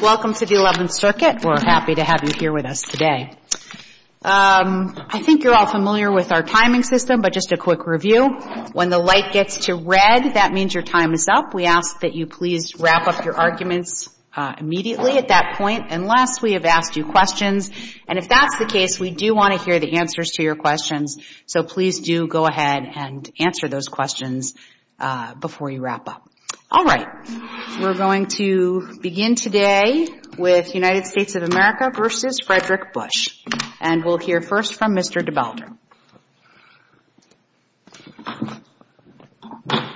Welcome to the 11th Circuit. We're happy to have you here with us today. I think you're all familiar with our timing system, but just a quick review. When the light gets to red, that means your time is up. We ask that you please wrap up your arguments immediately at that point, unless we have asked you questions. And if that's the case, we do want to hear the answers to your questions. So please do go ahead and answer those questions before you wrap up. All right. We're going to begin today with United States of America v. Frederick Bush. And we'll hear first from Mr. DeBalder.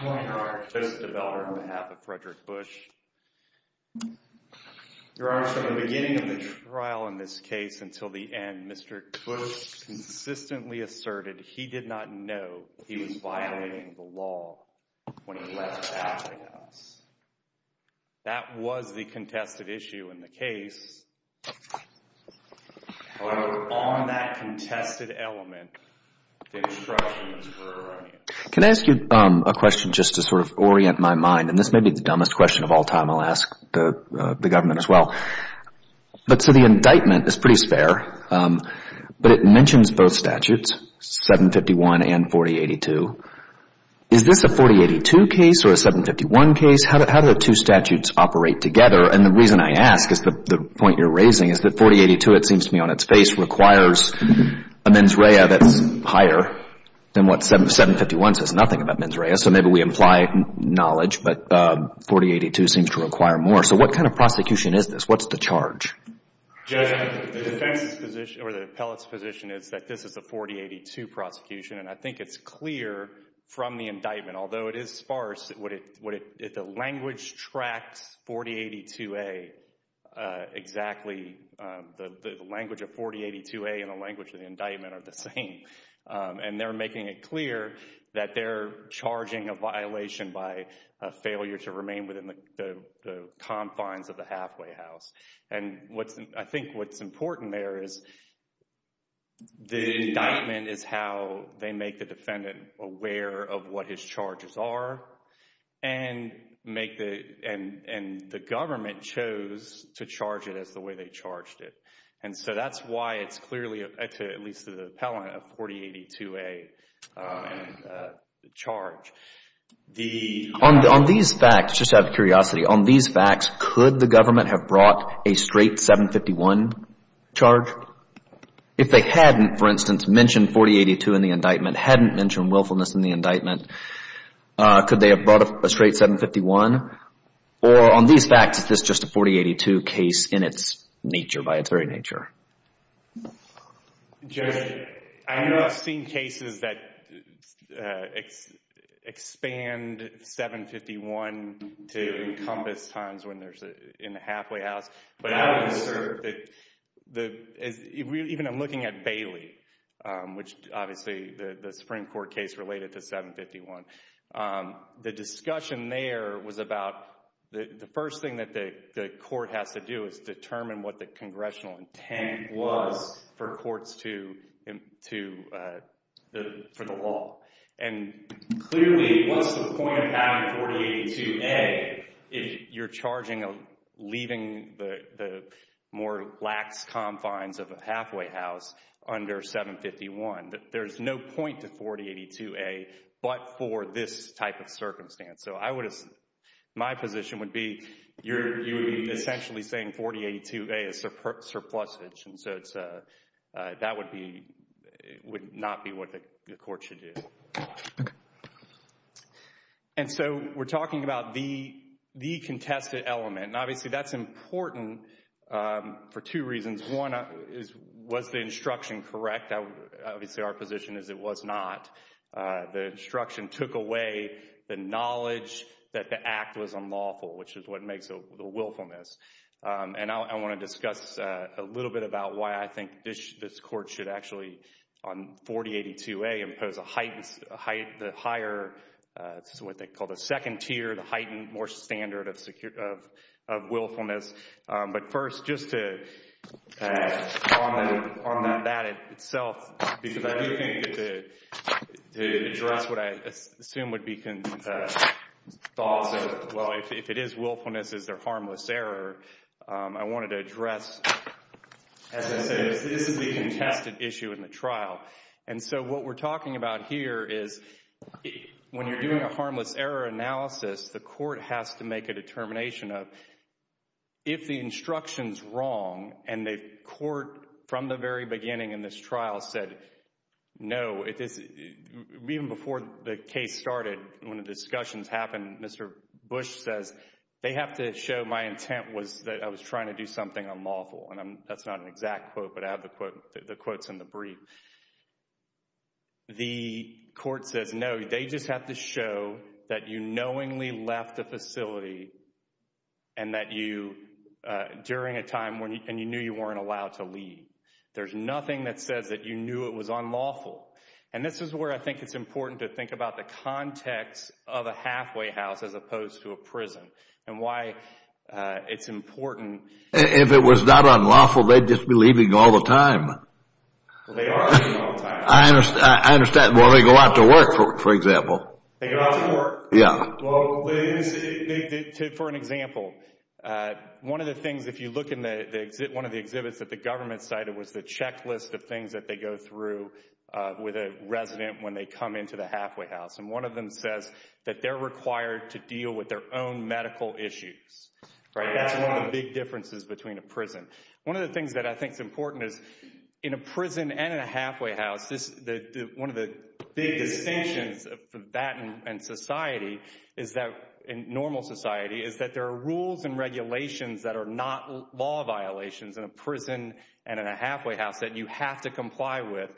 Your Honor, Joseph DeBalder on behalf of Frederick Bush. Your Honor, from the beginning of the case, consistently asserted he did not know he was violating the law when he left the courthouse. That was the contested issue in the case. However, on that contested element, the instructions were erroneous. Can I ask you a question just to sort of orient my mind? And this may be the dumbest question of all time. I'll ask the government as well. But so the indictment is pretty spare, but it mentions both statutes, 751 and 4082. Is this a 4082 case or a 751 case? How do the two statutes operate together? And the reason I ask is the point you're raising is that 4082, it seems to me on its face, requires a mens rea that's higher than what 751 says, nothing about mens rea. So maybe we imply knowledge, but 4082 seems to require more. So what kind of prosecution is this? What's the charge? Judge, the defense's position, or the appellate's position, is that this is a 4082 prosecution. And I think it's clear from the indictment, although it is sparse, the language tracks 4082A exactly. The language of 4082A and the language of the indictment are the same. And they're making it clear that they're charging a violation by failure to remain within the statute. And I think what's important there is the indictment is how they make the defendant aware of what his charges are and the government chose to charge it as the way they charged it. And so that's why it's clearly, at least to the appellant, a 4082A charge. On these facts, just out of curiosity, on these facts, could the government have brought a straight 751 charge? If they hadn't, for instance, mentioned 4082 in the indictment, hadn't mentioned willfulness in the indictment, could they have brought a straight 751? Or on these facts, is this just a 4082 case in its nature, by its very nature? Judge, I know I've seen cases that expand 751 to encompass times when there's in the halfway house. But I would assert that, even I'm looking at Bailey, which obviously the Supreme Court case related to 751. The discussion there was about the first thing that the court has to do is determine what the congressional intent was for courts to, for the law. And clearly what's the point of having 4082A if you're charging of leaving the more lax confines of a halfway house under 751? There's no point to 4082A but for this type of circumstance. So I would, my position would be you're essentially saying 4082A is surplusage. And so that would not be, would not be what the court should do. And so we're talking about the contested element. And obviously that's important for two reasons. One is, was the instruction correct? Obviously our position is it was not. The instruction took away the knowledge that the act was unlawful, which is what makes the willfulness. And I want to discuss a little bit about why I think this court should actually, on 4082A, impose a heightened, a higher, what they call the second tier, the heightened more standard of willfulness. But first, just to, on that itself, because I do think to address what I assume would be thoughts of, well, if it is willfulness, is there harmless error? I wanted to address, as I say, this is the contested issue in the trial. And so what we're talking about here is when you're doing a harmless error analysis, the court has to make a determination of if the instruction's wrong and the court, from the very beginning in this trial, said no. Even before the case started, when the discussions happened, Mr. Bush says, they was trying to do something unlawful. And that's not an exact quote, but I have the quotes in the brief. The court says, no, they just have to show that you knowingly left the facility and that you, during a time when you knew you weren't allowed to leave. There's nothing that says that you knew it was unlawful. And this is where I think it's important to think about the context of a halfway house as opposed to a prison and why it's important. If it was not unlawful, they'd just be leaving all the time. Well, they are leaving all the time. I understand. Well, they go out to work, for example. They go out to work? Yeah. Well, for an example, one of the things, if you look in one of the exhibits that the government cited was the checklist of things that they go through with a resident when they come into the halfway house. And one of them says that they're required to deal with their own medical issues. That's one of the big differences between a prison. One of the things that I think is important is in a prison and in a halfway house, one of the big distinctions of that and society is that in normal society is that there are rules and regulations that are not law violations in a prison and in a halfway house that you have to comply with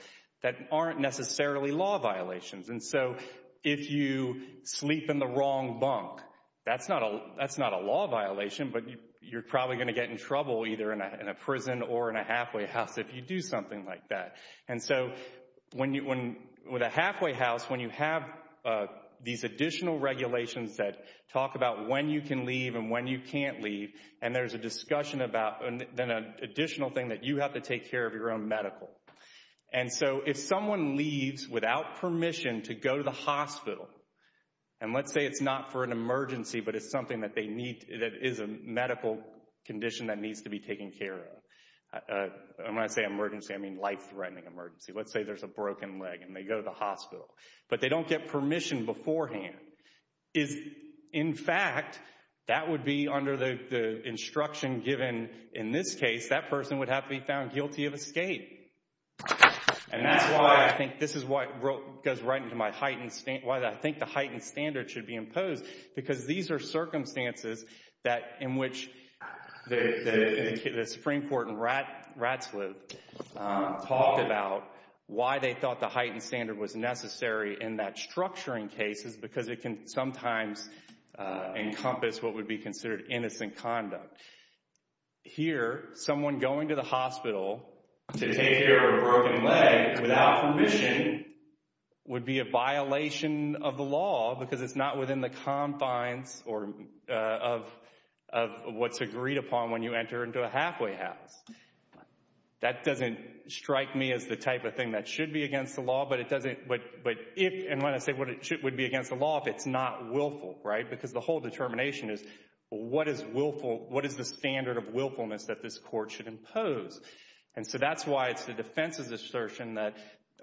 that aren't necessarily law violations. And so if you sleep in the wrong bunk, that's not a law violation, but you're probably going to get in trouble either in a prison or in a halfway house if you do something like that. And so when you, with a halfway house, when you have these additional regulations that talk about when you can leave and when you can't leave, and there's a discussion about an additional thing that you have to take care of your own medical. And so if someone leaves without permission to go to the hospital, and let's say it's not for an emergency, but it's something that they need, that is a medical condition that needs to be taken care of. And when I say emergency, I mean life-threatening emergency. Let's say there's a broken leg and they go to the hospital, but they don't get permission beforehand. In fact, that would be under the instruction given in this case, that person would have to be found guilty of escape. And that's why I think this is what goes right into my heightened, why I think the heightened standard should be imposed, because these are circumstances that, in which the Supreme Court and Ratsliff talked about why they thought the heightened standard was necessary in that structuring case is because it can sometimes encompass what would be considered innocent conduct. Here, someone going to the hospital to take care of a broken leg without permission would be a violation of the law because it's not within the confines of what's agreed upon when you enter into a halfway house. That doesn't strike me as the type of thing that should be against the law if it's not willful, right? Because the whole determination is what is willful, what is the standard of willfulness that this court should impose? And so that's why it's the defense's assertion that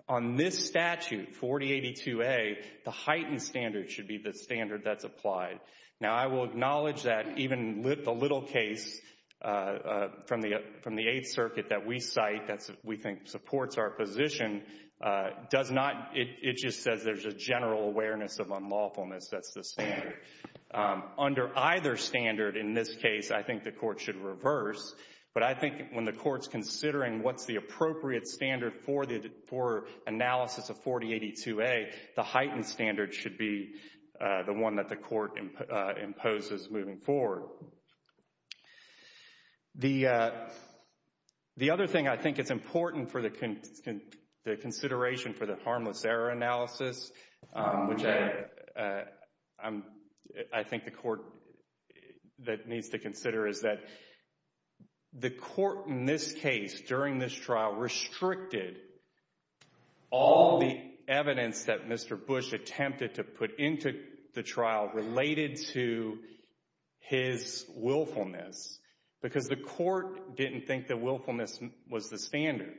on this statute, 4082A, the heightened standard should be the standard that's applied. Now, I will acknowledge that even the little case from the Eighth Circuit that we cite that we think supports our position does not, it just says there's a general awareness of unlawfulness. That's the standard. Under either standard in this case, I think the court should reverse, but I think when the court's considering what's the appropriate standard for analysis of 4082A, the heightened standard should be the one that the court imposes moving forward. The other thing I think is important for the consideration for the harmless error analysis, which I think the court that needs to consider is that the court in this case, during this trial, restricted all the evidence that Mr. Bush attempted to put into the trial related to his willfulness because the court didn't think that willfulness was the standard.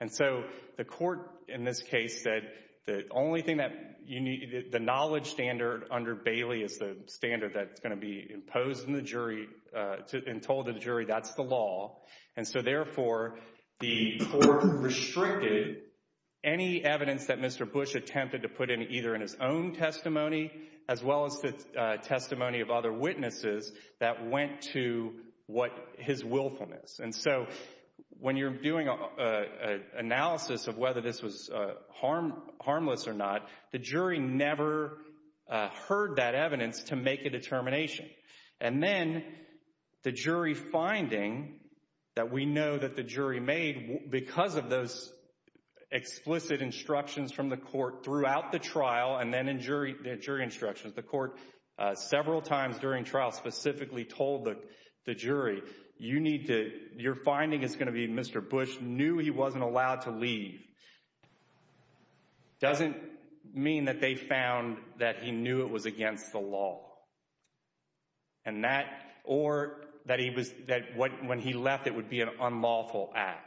And so the court in this case said the only thing that you need, the knowledge standard under Bailey is the standard that's going to be imposed in the jury and told to the jury that's the law. And so therefore, the court restricted any evidence that Mr. Bush attempted to put in either in his own testimony as well as the testimony of other When you're doing an analysis of whether this was harmless or not, the jury never heard that evidence to make a determination. And then the jury finding that we know that the jury made because of those explicit instructions from the court throughout the trial and then in jury instructions, the court several times during trial specifically told the jury, you need to, your finding is going to be Mr. Bush knew he wasn't allowed to leave. Doesn't mean that they found that he knew it was against the law. And that or that he was that when he left, it would be an unlawful act.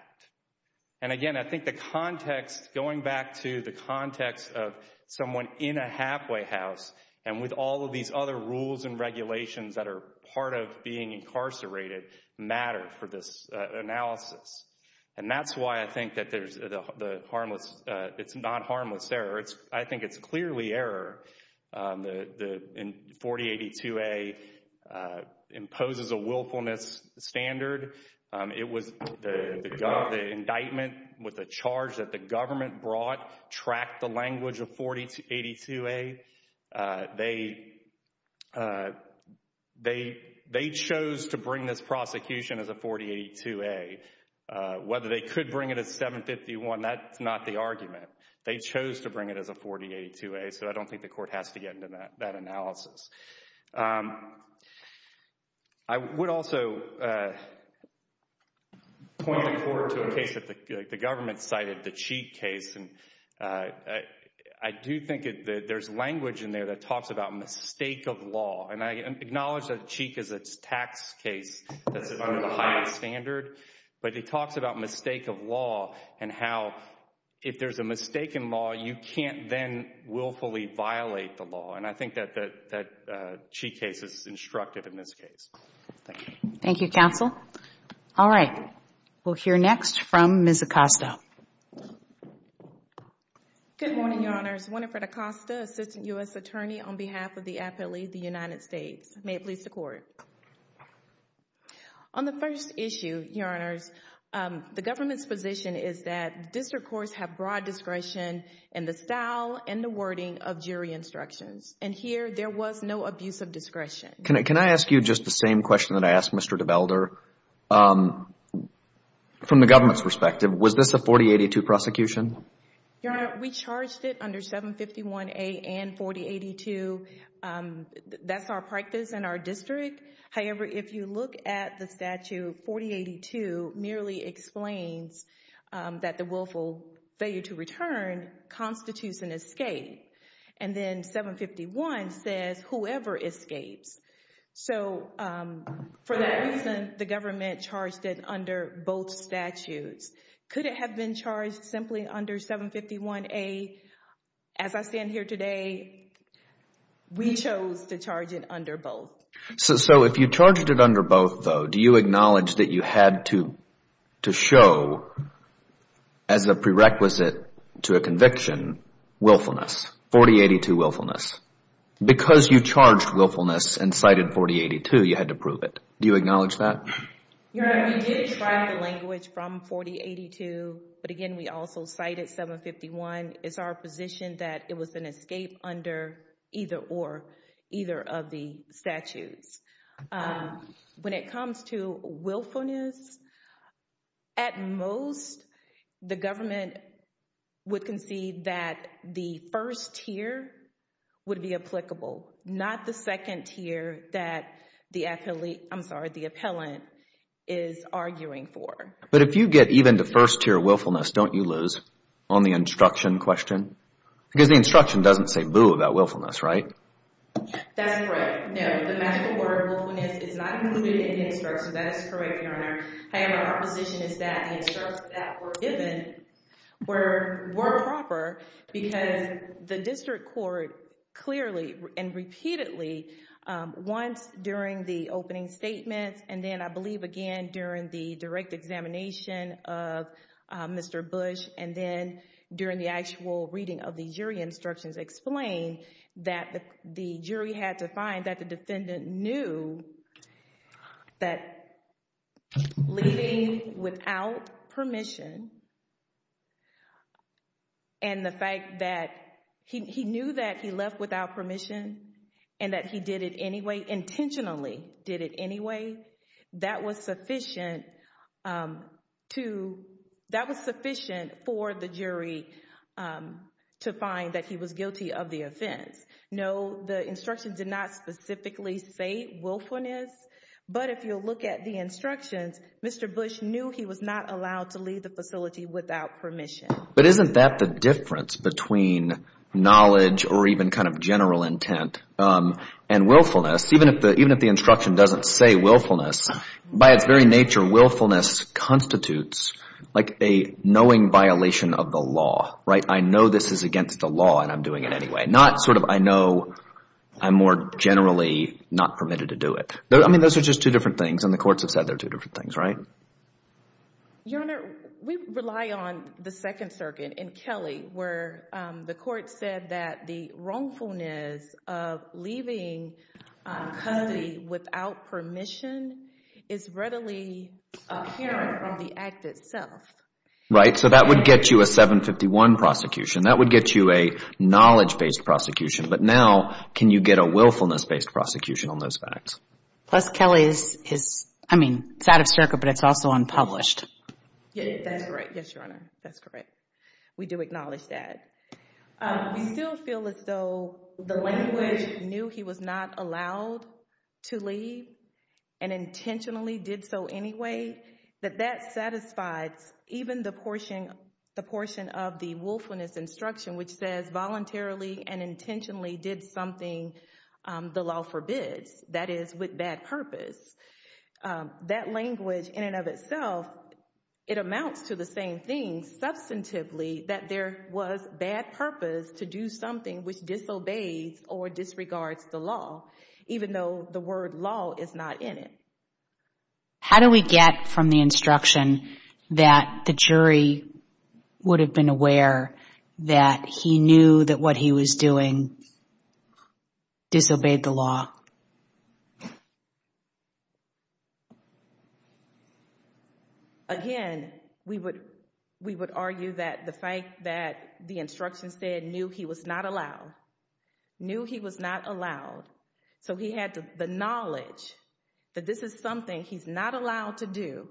And again, I think the context going back to the context of someone in a halfway house and with all of these other rules and regulations that are part of being incarcerated matter for this analysis. And that's why I think that there's the harmless. It's not harmless error. It's I think it's clearly error. The 4082a imposes a willfulness standard. It was the indictment with a charge that the government brought, tracked the language of 4082a. They chose to bring this prosecution as a 4082a. Whether they could bring it as 751, that's not the argument. They chose to bring it as a 4082a. So I don't think the court has to get into that analysis. I would also point forward to a case that the government cited, the Cheek case. I do think that there's language in there that talks about mistake of law. And I acknowledge that Cheek is a tax case that's under the highest standard. But it talks about mistake of law and how if there's a mistake in law, you can't then willfully violate the law. And I think that Cheek case is instructive in this case. Thank you, counsel. All right. We'll hear next from Ms. Acosta. Good morning, Your Honors. Winifred Acosta, Assistant U.S. Attorney on behalf of the Appellee of the United States. May it please the Court. On the first issue, Your Honors, the government's position is that district courts have broad discretion in the style and the wording of jury instructions. And here, there was no abuse of discretion. Can I ask you just the same question that I asked Mr. DeBelder? From the government's perspective, was this a 4082 prosecution? Your Honor, we charged it under 751A and 4082. That's our practice in our district. However, if you look at the statute, 4082 merely explains that the willful failure to return constitutes an escape. And then 751 says whoever escapes. So for that reason, the government charged it under both statutes. Could it have been charged simply under 751A? As I stand here today, we chose to charge it under both. So if you charged it under both, though, do you acknowledge that you had to show as a requisite to a conviction willfulness, 4082 willfulness? Because you charged willfulness and cited 4082, you had to prove it. Do you acknowledge that? Your Honor, we did try the language from 4082. But again, we also cited 751. It's our position that it was an escape under either or, either of the statutes. When it comes to willfulness, at most, the government would concede that the first tier would be applicable, not the second tier that the appellate, I'm sorry, the appellant is arguing for. But if you get even to first tier willfulness, don't you lose on the instruction question? Because the instruction doesn't say boo about willfulness, right? That's correct. No, the magical word willfulness is not included in the instruction. That is correct, Your Honor. However, our position is that the instructions that were given were proper because the district court clearly and repeatedly, once during the opening statements, and then I believe again during the direct examination of Mr. Bush, and then during the actual reading of the jury instructions, explained that the jury had to find that the defendant knew that leaving without permission and the fact that he knew that he left without permission and that he did it anyway, intentionally did it anyway, that was sufficient for the jury to find that he was guilty of the offense. No, the instruction did not specifically say willfulness, but if you look at the instructions, Mr. Bush knew he was not allowed to leave the facility without permission. But isn't that the difference between knowledge or even kind of general intent and willfulness? Even if the instruction doesn't say willfulness, by its very nature, willfulness constitutes like a knowing violation of the law, right? I know this is against the law and I'm doing it anyway. Not sort of I know I'm more generally not permitted to do it. I mean, those are just two different things and the courts have said they're two different things, right? Your Honor, we rely on the Second Circuit in Kelly where the court said that the wrongfulness of leaving without permission is readily apparent from the act itself. Right, so that would get you a 751 prosecution. That would get you a knowledge-based prosecution, but now can you get a willfulness-based prosecution on those facts? Plus, Kelly is, I mean, it's out of circuit, but it's also unpublished. Yes, that's correct. Yes, Your Honor, that's correct. We do acknowledge that. We still feel as though the language knew he was not allowed to leave and intentionally did so anyway, that that satisfies even the portion of the willfulness instruction which says voluntarily and intentionally did something the law forbids, that is with bad purpose. That language in and of itself, it amounts to the same thing substantively that there was bad purpose to do something which disobeys or disregards the law even though the word law is not in it. How do we get from the instruction that the jury would have been aware that he knew that what he was doing disobeyed the law? Again, we would argue that the fact that the instruction said knew he was not allowed, knew he was not allowed, so he had the knowledge that this is something he's not allowed to do,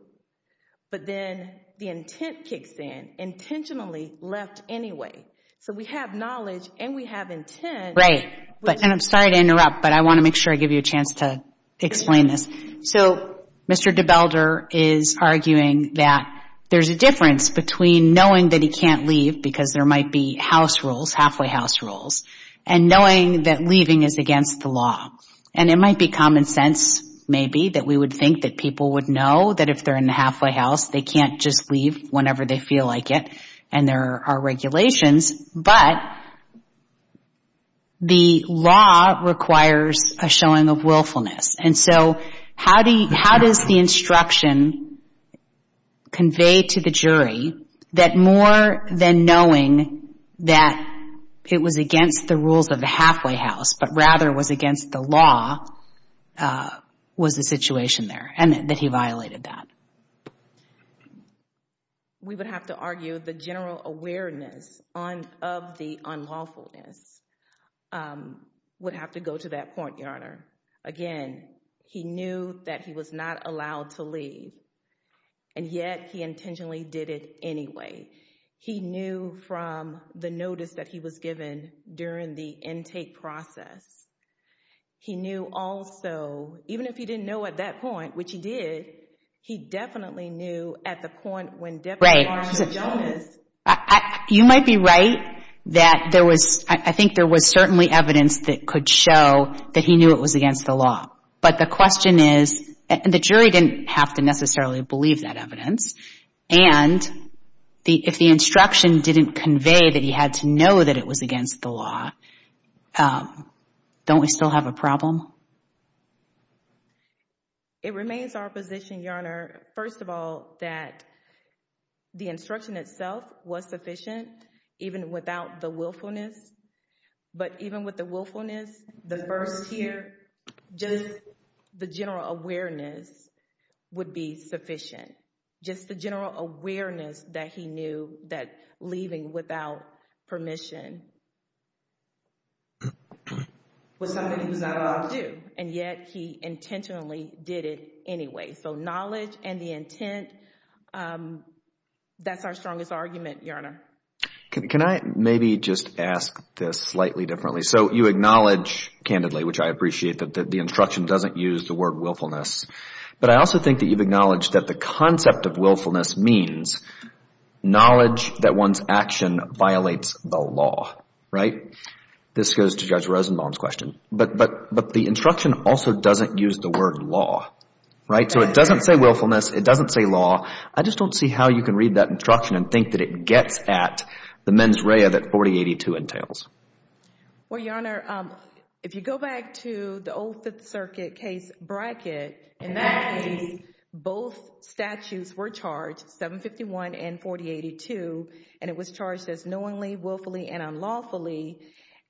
but then the intent kicks in, intentionally left anyway, so we have knowledge and we have intent. Right, and I'm sorry to interrupt, but I want to make sure I give you a chance to explain this. So, Mr. DeBelder is arguing that there's a difference between knowing that he can't leave because there might be house rules, halfway house rules, and knowing that leaving is against the law and it might be common sense maybe that we would think that people would know that if they're in the halfway house they can't just leave whenever they feel like it and there are regulations, but the law requires a showing of willfulness, and so how does the instruction convey to the jury that more than knowing that it was against the rules of the halfway house, but rather was against the law, was the situation there and that he violated that? We would have to argue the general awareness on of the unlawfulness would have to go to that point, Your Honor. Again, he knew that he was not allowed to leave and yet he intentionally did it anyway. He knew from the notice that he was given during the intake process. He knew also even if he didn't know at that point, which he did, he definitely knew at the point when DeBelder was arming Jonas. You might be right that there was, I think there was certainly evidence that could show that he knew it was against the law, but the question is, and the jury didn't have to necessarily believe that evidence, and if the instruction didn't convey that he had to know that it was against the law, don't we still have a problem? It remains our position, Your Honor, first of all, that the instruction itself was sufficient even without the willfulness, but even with the willfulness, the first here, just the general awareness would be sufficient. Just the general awareness that he knew that leaving without permission was something he was not allowed to do, and yet he intentionally did it anyway. Knowledge and the intent, that's our strongest argument, Your Honor. Can I maybe just ask this slightly differently? You acknowledge, candidly, which I appreciate that the instruction doesn't use the word willfulness, but I also think that you've acknowledged that the concept of willfulness means knowledge that one's action violates the law, right? This goes to Judge Rosenbaum's question, but the instruction also doesn't use the word law, right? So it doesn't say willfulness, it doesn't say law. I just don't see how you can read that instruction and think that it gets at the mens rea that 4082 entails. Well, Your Honor, if you go back to the old Fifth Circuit case in that case, both statutes were charged, 751 and 4082, and it was charged as knowingly, willfully, and unlawfully,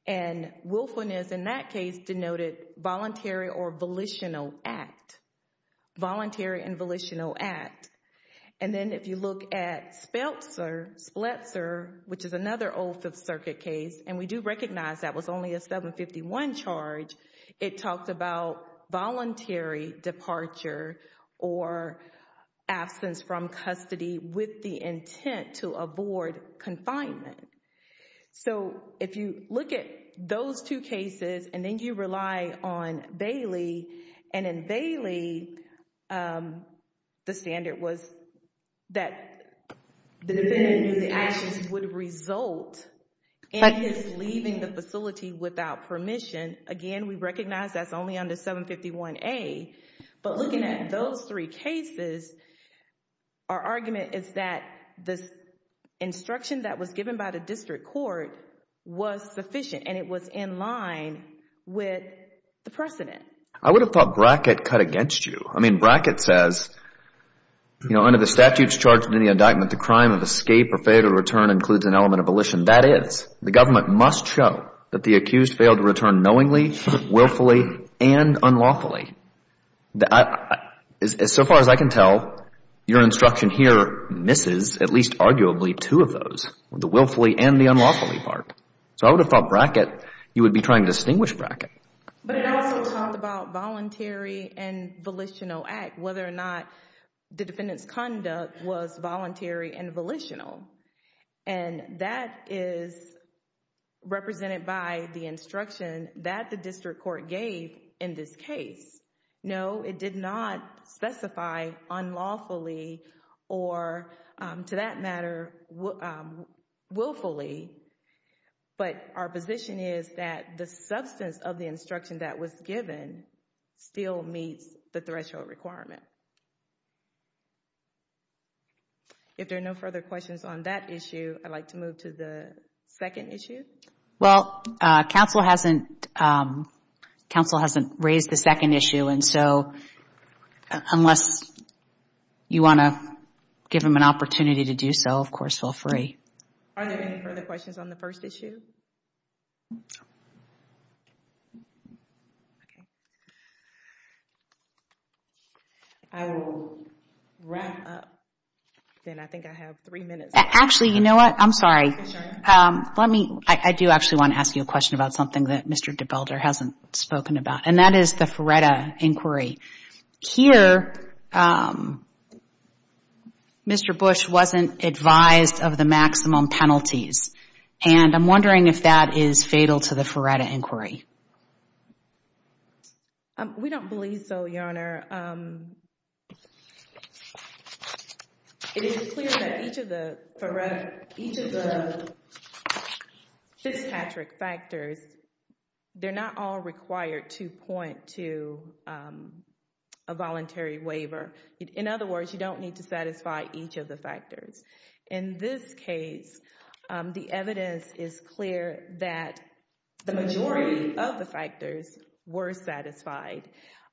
and willfulness in that case denoted voluntary or volitional act. Voluntary and volitional act. And then if you look at Speltzer, which is another old Fifth Circuit case, it was a voluntary departure or absence from custody with the intent to avoid confinement. So if you look at those two cases and then you rely on Bailey, and in Bailey, the standard was that the defendant knew the actions would result in his leaving the facility without permission. Again, we recognize that's only under 751A, but looking at those three cases, our argument is that this instruction that was given by the district court was sufficient and it was in line with the precedent. I would have thought Brackett cut against you. I mean, Brackett says, you know, under the statutes charged in the indictment, the crime of escape or failure to return includes an element of volition. That is, the government must show that the accused failed to return knowingly, willfully, and unlawfully. So far as I can tell, your instruction here misses at least arguably two of those, the willfully and the unlawfully part. So I would have thought Brackett, you would be trying to distinguish Brackett. But it also talked about voluntary and volitional act, whether or not the defendant's conduct was voluntary and volitional. And that is represented by the instruction that the district court gave in this case. No, it did not specify unlawfully or to that matter, willfully. But our position is that the substance of the instruction that was provided was voluntary. If there are no further questions on that issue, I'd like to move to the second issue. Well, counsel hasn't raised the second issue. And so unless you want to give him an opportunity to do so, of course, feel free. Are there any further questions on the first issue? No. Okay. I will wrap up then. I think I have three minutes. Actually, you know what? I'm sorry. I'm sorry. Let me, I do actually want to ask you a question about something that Mr. DeBelder hasn't spoken about. And that is the Feretta inquiry. Here, Mr. Bush wasn't advised of the maximum penalties. And I'm wondering if that is fatal to the Feretta inquiry. We don't believe so, Your Honor. It is clear that each of the Feretta, each of the dispatric factors, they're not all required to point to a voluntary waiver. In other words, you don't need to satisfy each of the factors. In this case, the evidence is clear that the majority of the factors were satisfied.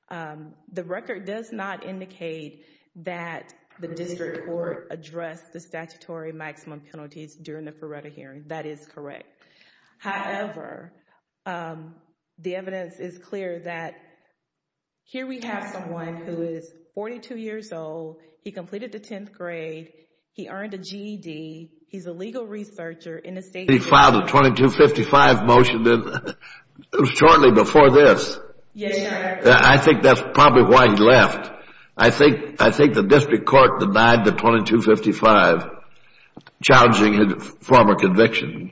The record does not indicate that the district court addressed the statutory maximum penalties during the Feretta hearing. That is correct. However, the evidence is clear that here we have someone who is 42 years old. He completed the 10th grade. He earned a GED. He's a legal researcher in the state. He filed a 2255 motion shortly before this. Yes, Your Honor. I think that's probably why he left. I think the district court denied the 2255 challenging his former conviction.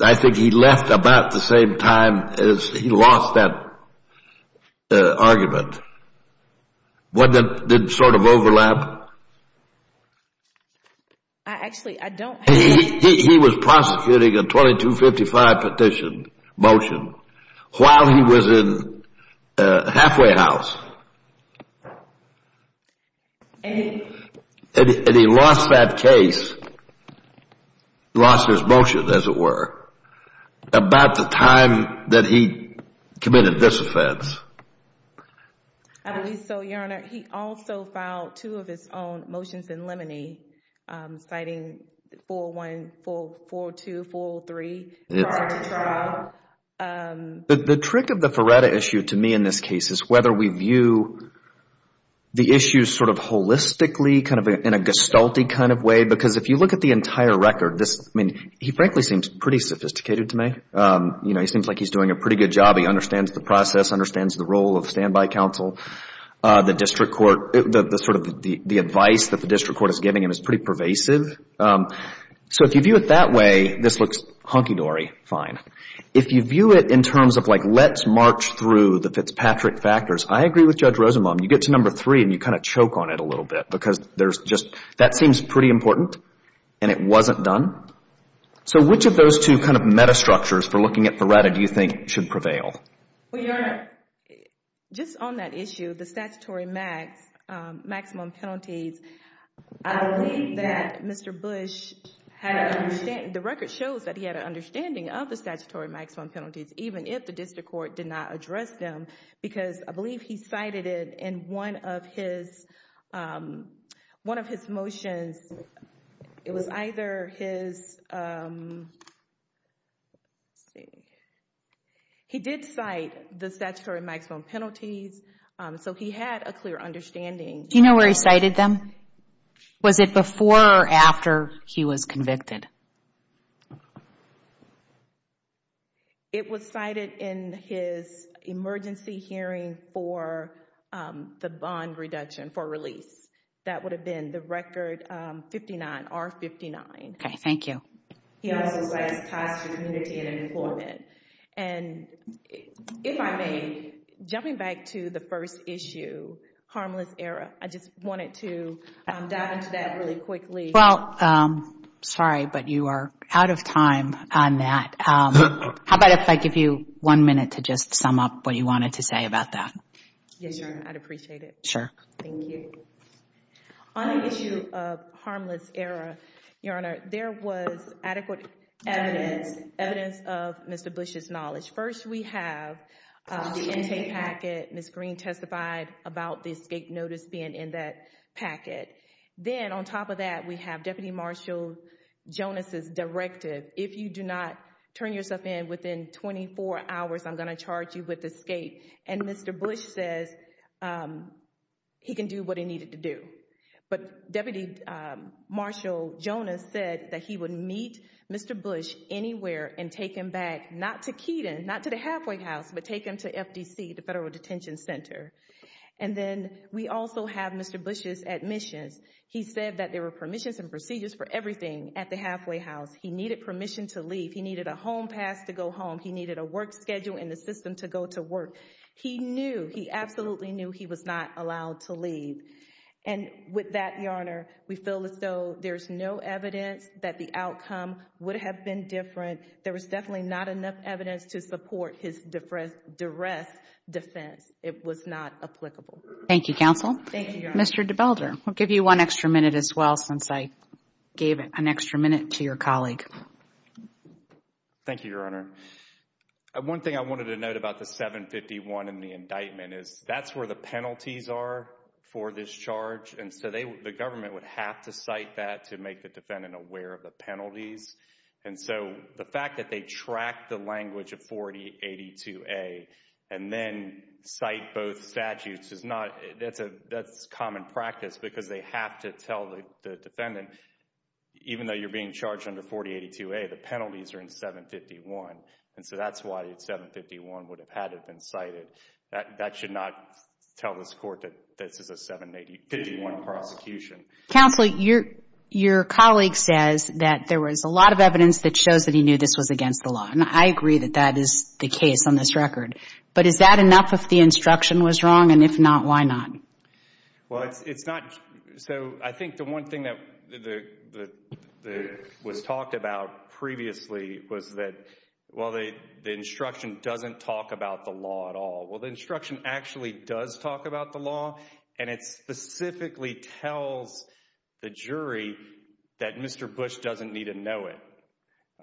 I think he left about the same time as he lost that argument. Wasn't it, did it sort of overlap? I actually, I don't. He was prosecuting a 2255 petition, motion, while he was in halfway house. And he lost that case, lost his motion, as it were, about the time that he committed this offense. I believe so, Your Honor. He also filed two of his own motions in limine, citing 414243 prior to trial. But the trick of the Feretta issue to me in this case is whether we view the issues sort of holistically, kind of in a gestalt-y kind of way. Because if you look at the entire record, this, I mean, he frankly seems pretty sophisticated to me. You know, he seems like he's doing a pretty good job. He understands the process, understands the role of standby counsel. The district court, the sort of the advice that the district court is giving him is pretty pervasive. So if you view it that way, this looks hunky-dory fine. If you view it in terms of like, let's march through the Fitzpatrick factors, I agree with Judge Rosenbaum. You get to number three and you kind of choke on it a little bit because there's just, that seems pretty important and it wasn't done. So which of those two kind of metastructures for looking at Feretta do you think should prevail? Well, Your Honor, just on that issue, the statutory max, maximum penalties, I believe that Mr. Bush had an understanding, the record shows that he had an understanding of the statutory maximum penalties, even if the district court did not address them. Because I believe he cited it in one of his, one of his motions. It was either his, he did cite the statutory maximum penalties. So he had a clear understanding. Do you know where he cited them? Was it before or after he was convicted? It was cited in his emergency hearing for the bond reduction, for release. That would have been the record 59, R59. Okay, thank you. He also cites ties to community and employment. And if I may, jumping back to the first issue, harmless error, I just wanted to dive into that really quickly. Well, sorry, but you are out of time on that. How about if I give you one minute to just sum up what you wanted to say about that? Yes, Your Honor, I'd appreciate it. Sure. Thank you. On the issue of harmless error, Your Honor, there was adequate evidence, evidence of Mr. Bush's knowledge. First, we have the intake packet. Ms. Green testified about the escape notice being in that packet. Then on top of that, we have Deputy Marshal Jonas's directive. If you do not turn yourself in within 24 hours, I'm going to charge you with escape. And Mr. Bush says he can do what he needed to do. But Deputy Marshal Jonas said that he would meet Mr. Bush anywhere and take him back, not to Keeton, not to the halfway house, but take him to Keeton. And then we also have Mr. Bush's admissions. He said that there were permissions and procedures for everything at the halfway house. He needed permission to leave. He needed a home pass to go home. He needed a work schedule in the system to go to work. He knew, he absolutely knew he was not allowed to leave. And with that, Your Honor, we feel as though there's no evidence that the outcome would have been different. There was definitely not enough evidence to support his direct defense. It was not applicable. Thank you, counsel. Mr. DeBelder, I'll give you one extra minute as well since I gave an extra minute to your colleague. Thank you, Your Honor. One thing I wanted to note about the 751 and the indictment is that's where the penalties are for this charge. And so the government would have to cite that to make the defendant aware of the penalties. And so the fact that they track the language of 4082A and then cite both statutes is not, that's common practice because they have to tell the defendant, even though you're being charged under 4082A, the penalties are in 751. And so that's why 751 would have had it been cited. That should not tell this court that this is a 751 prosecution. Counselor, your colleague says that there was a lot of evidence that shows that he knew this was against the law. And I agree that that is the case on this record. But is that enough if the instruction was wrong? And if not, why not? Well, it's not. So I think the one thing that was talked about previously was that, well, the instruction doesn't talk about the law at all. Well, instruction actually does talk about the law, and it specifically tells the jury that Mr. Bush doesn't need to know it.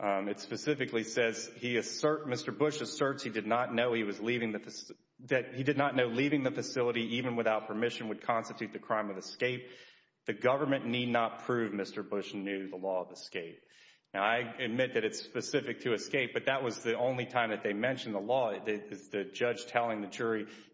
It specifically says he assert, Mr. Bush asserts he did not know he was leaving the, that he did not know leaving the facility even without permission would constitute the crime of escape. The government need not prove Mr. Bush knew the law of escape. Now, I admit that it's specific to escape, but that was the only time that they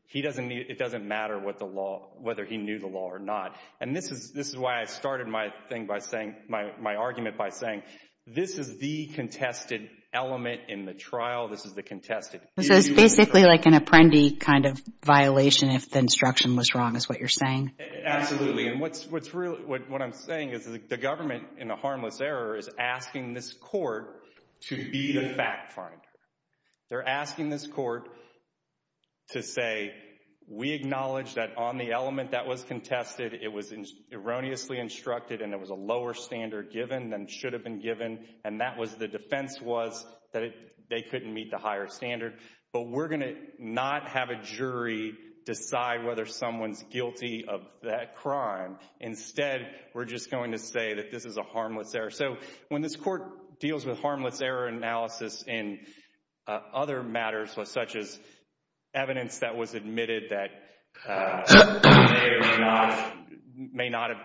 he doesn't need, it doesn't matter what the law, whether he knew the law or not. And this is why I started my thing by saying, my argument by saying, this is the contested element in the trial. This is the contested. So it's basically like an apprendi kind of violation if the instruction was wrong is what you're saying? Absolutely. And what I'm saying is the government in a harmless error is asking this court to be the fact finder. They're asking this court to say, we acknowledge that on the element that was contested, it was erroneously instructed, and it was a lower standard given than should have been given. And that was the defense was that they couldn't meet the higher standard. But we're going to not have a jury decide whether someone's guilty of that crime. Instead, we're just going to say this is a harmless error. So when this court deals with harmless error analysis in other matters such as evidence that was admitted that may not have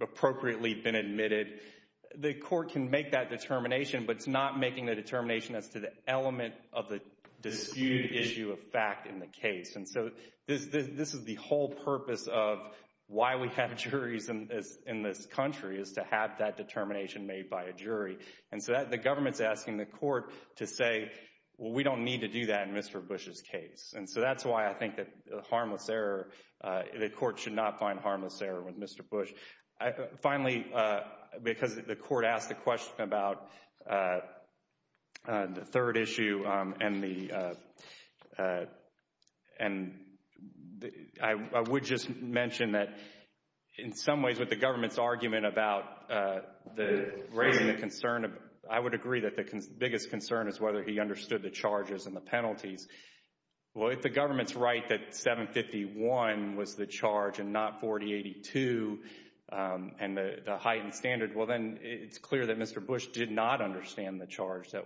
appropriately been admitted, the court can make that determination, but it's not making the determination as to the element of the disputed issue of fact in the case. And so this is the whole purpose of why we have juries in this country is to have that determination made by a jury. And so that the government's asking the court to say, well, we don't need to do that in Mr. Bush's case. And so that's why I think that the court should not find harmless error with Mr. Bush. Finally, because the court asked the question about the third issue and I would just mention that in some ways with the government's argument about the raising the concern, I would agree that the biggest concern is whether he understood the charges and the penalties. Well, if the government's right that 751 was the charge and not 4082 and the heightened standard, well, then it's clear that Mr. Bush did not understand the charge that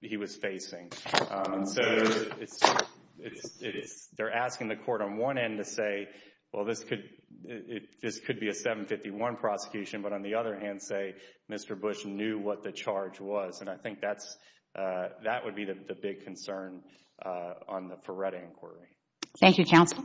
he was facing. So they're asking the court on one end to say, well, this could be a 751 prosecution, but on the other hand, say Mr. Bush knew what the charge was. And I think that would be the big concern on the Ferretti inquiry. Thank you, counsel.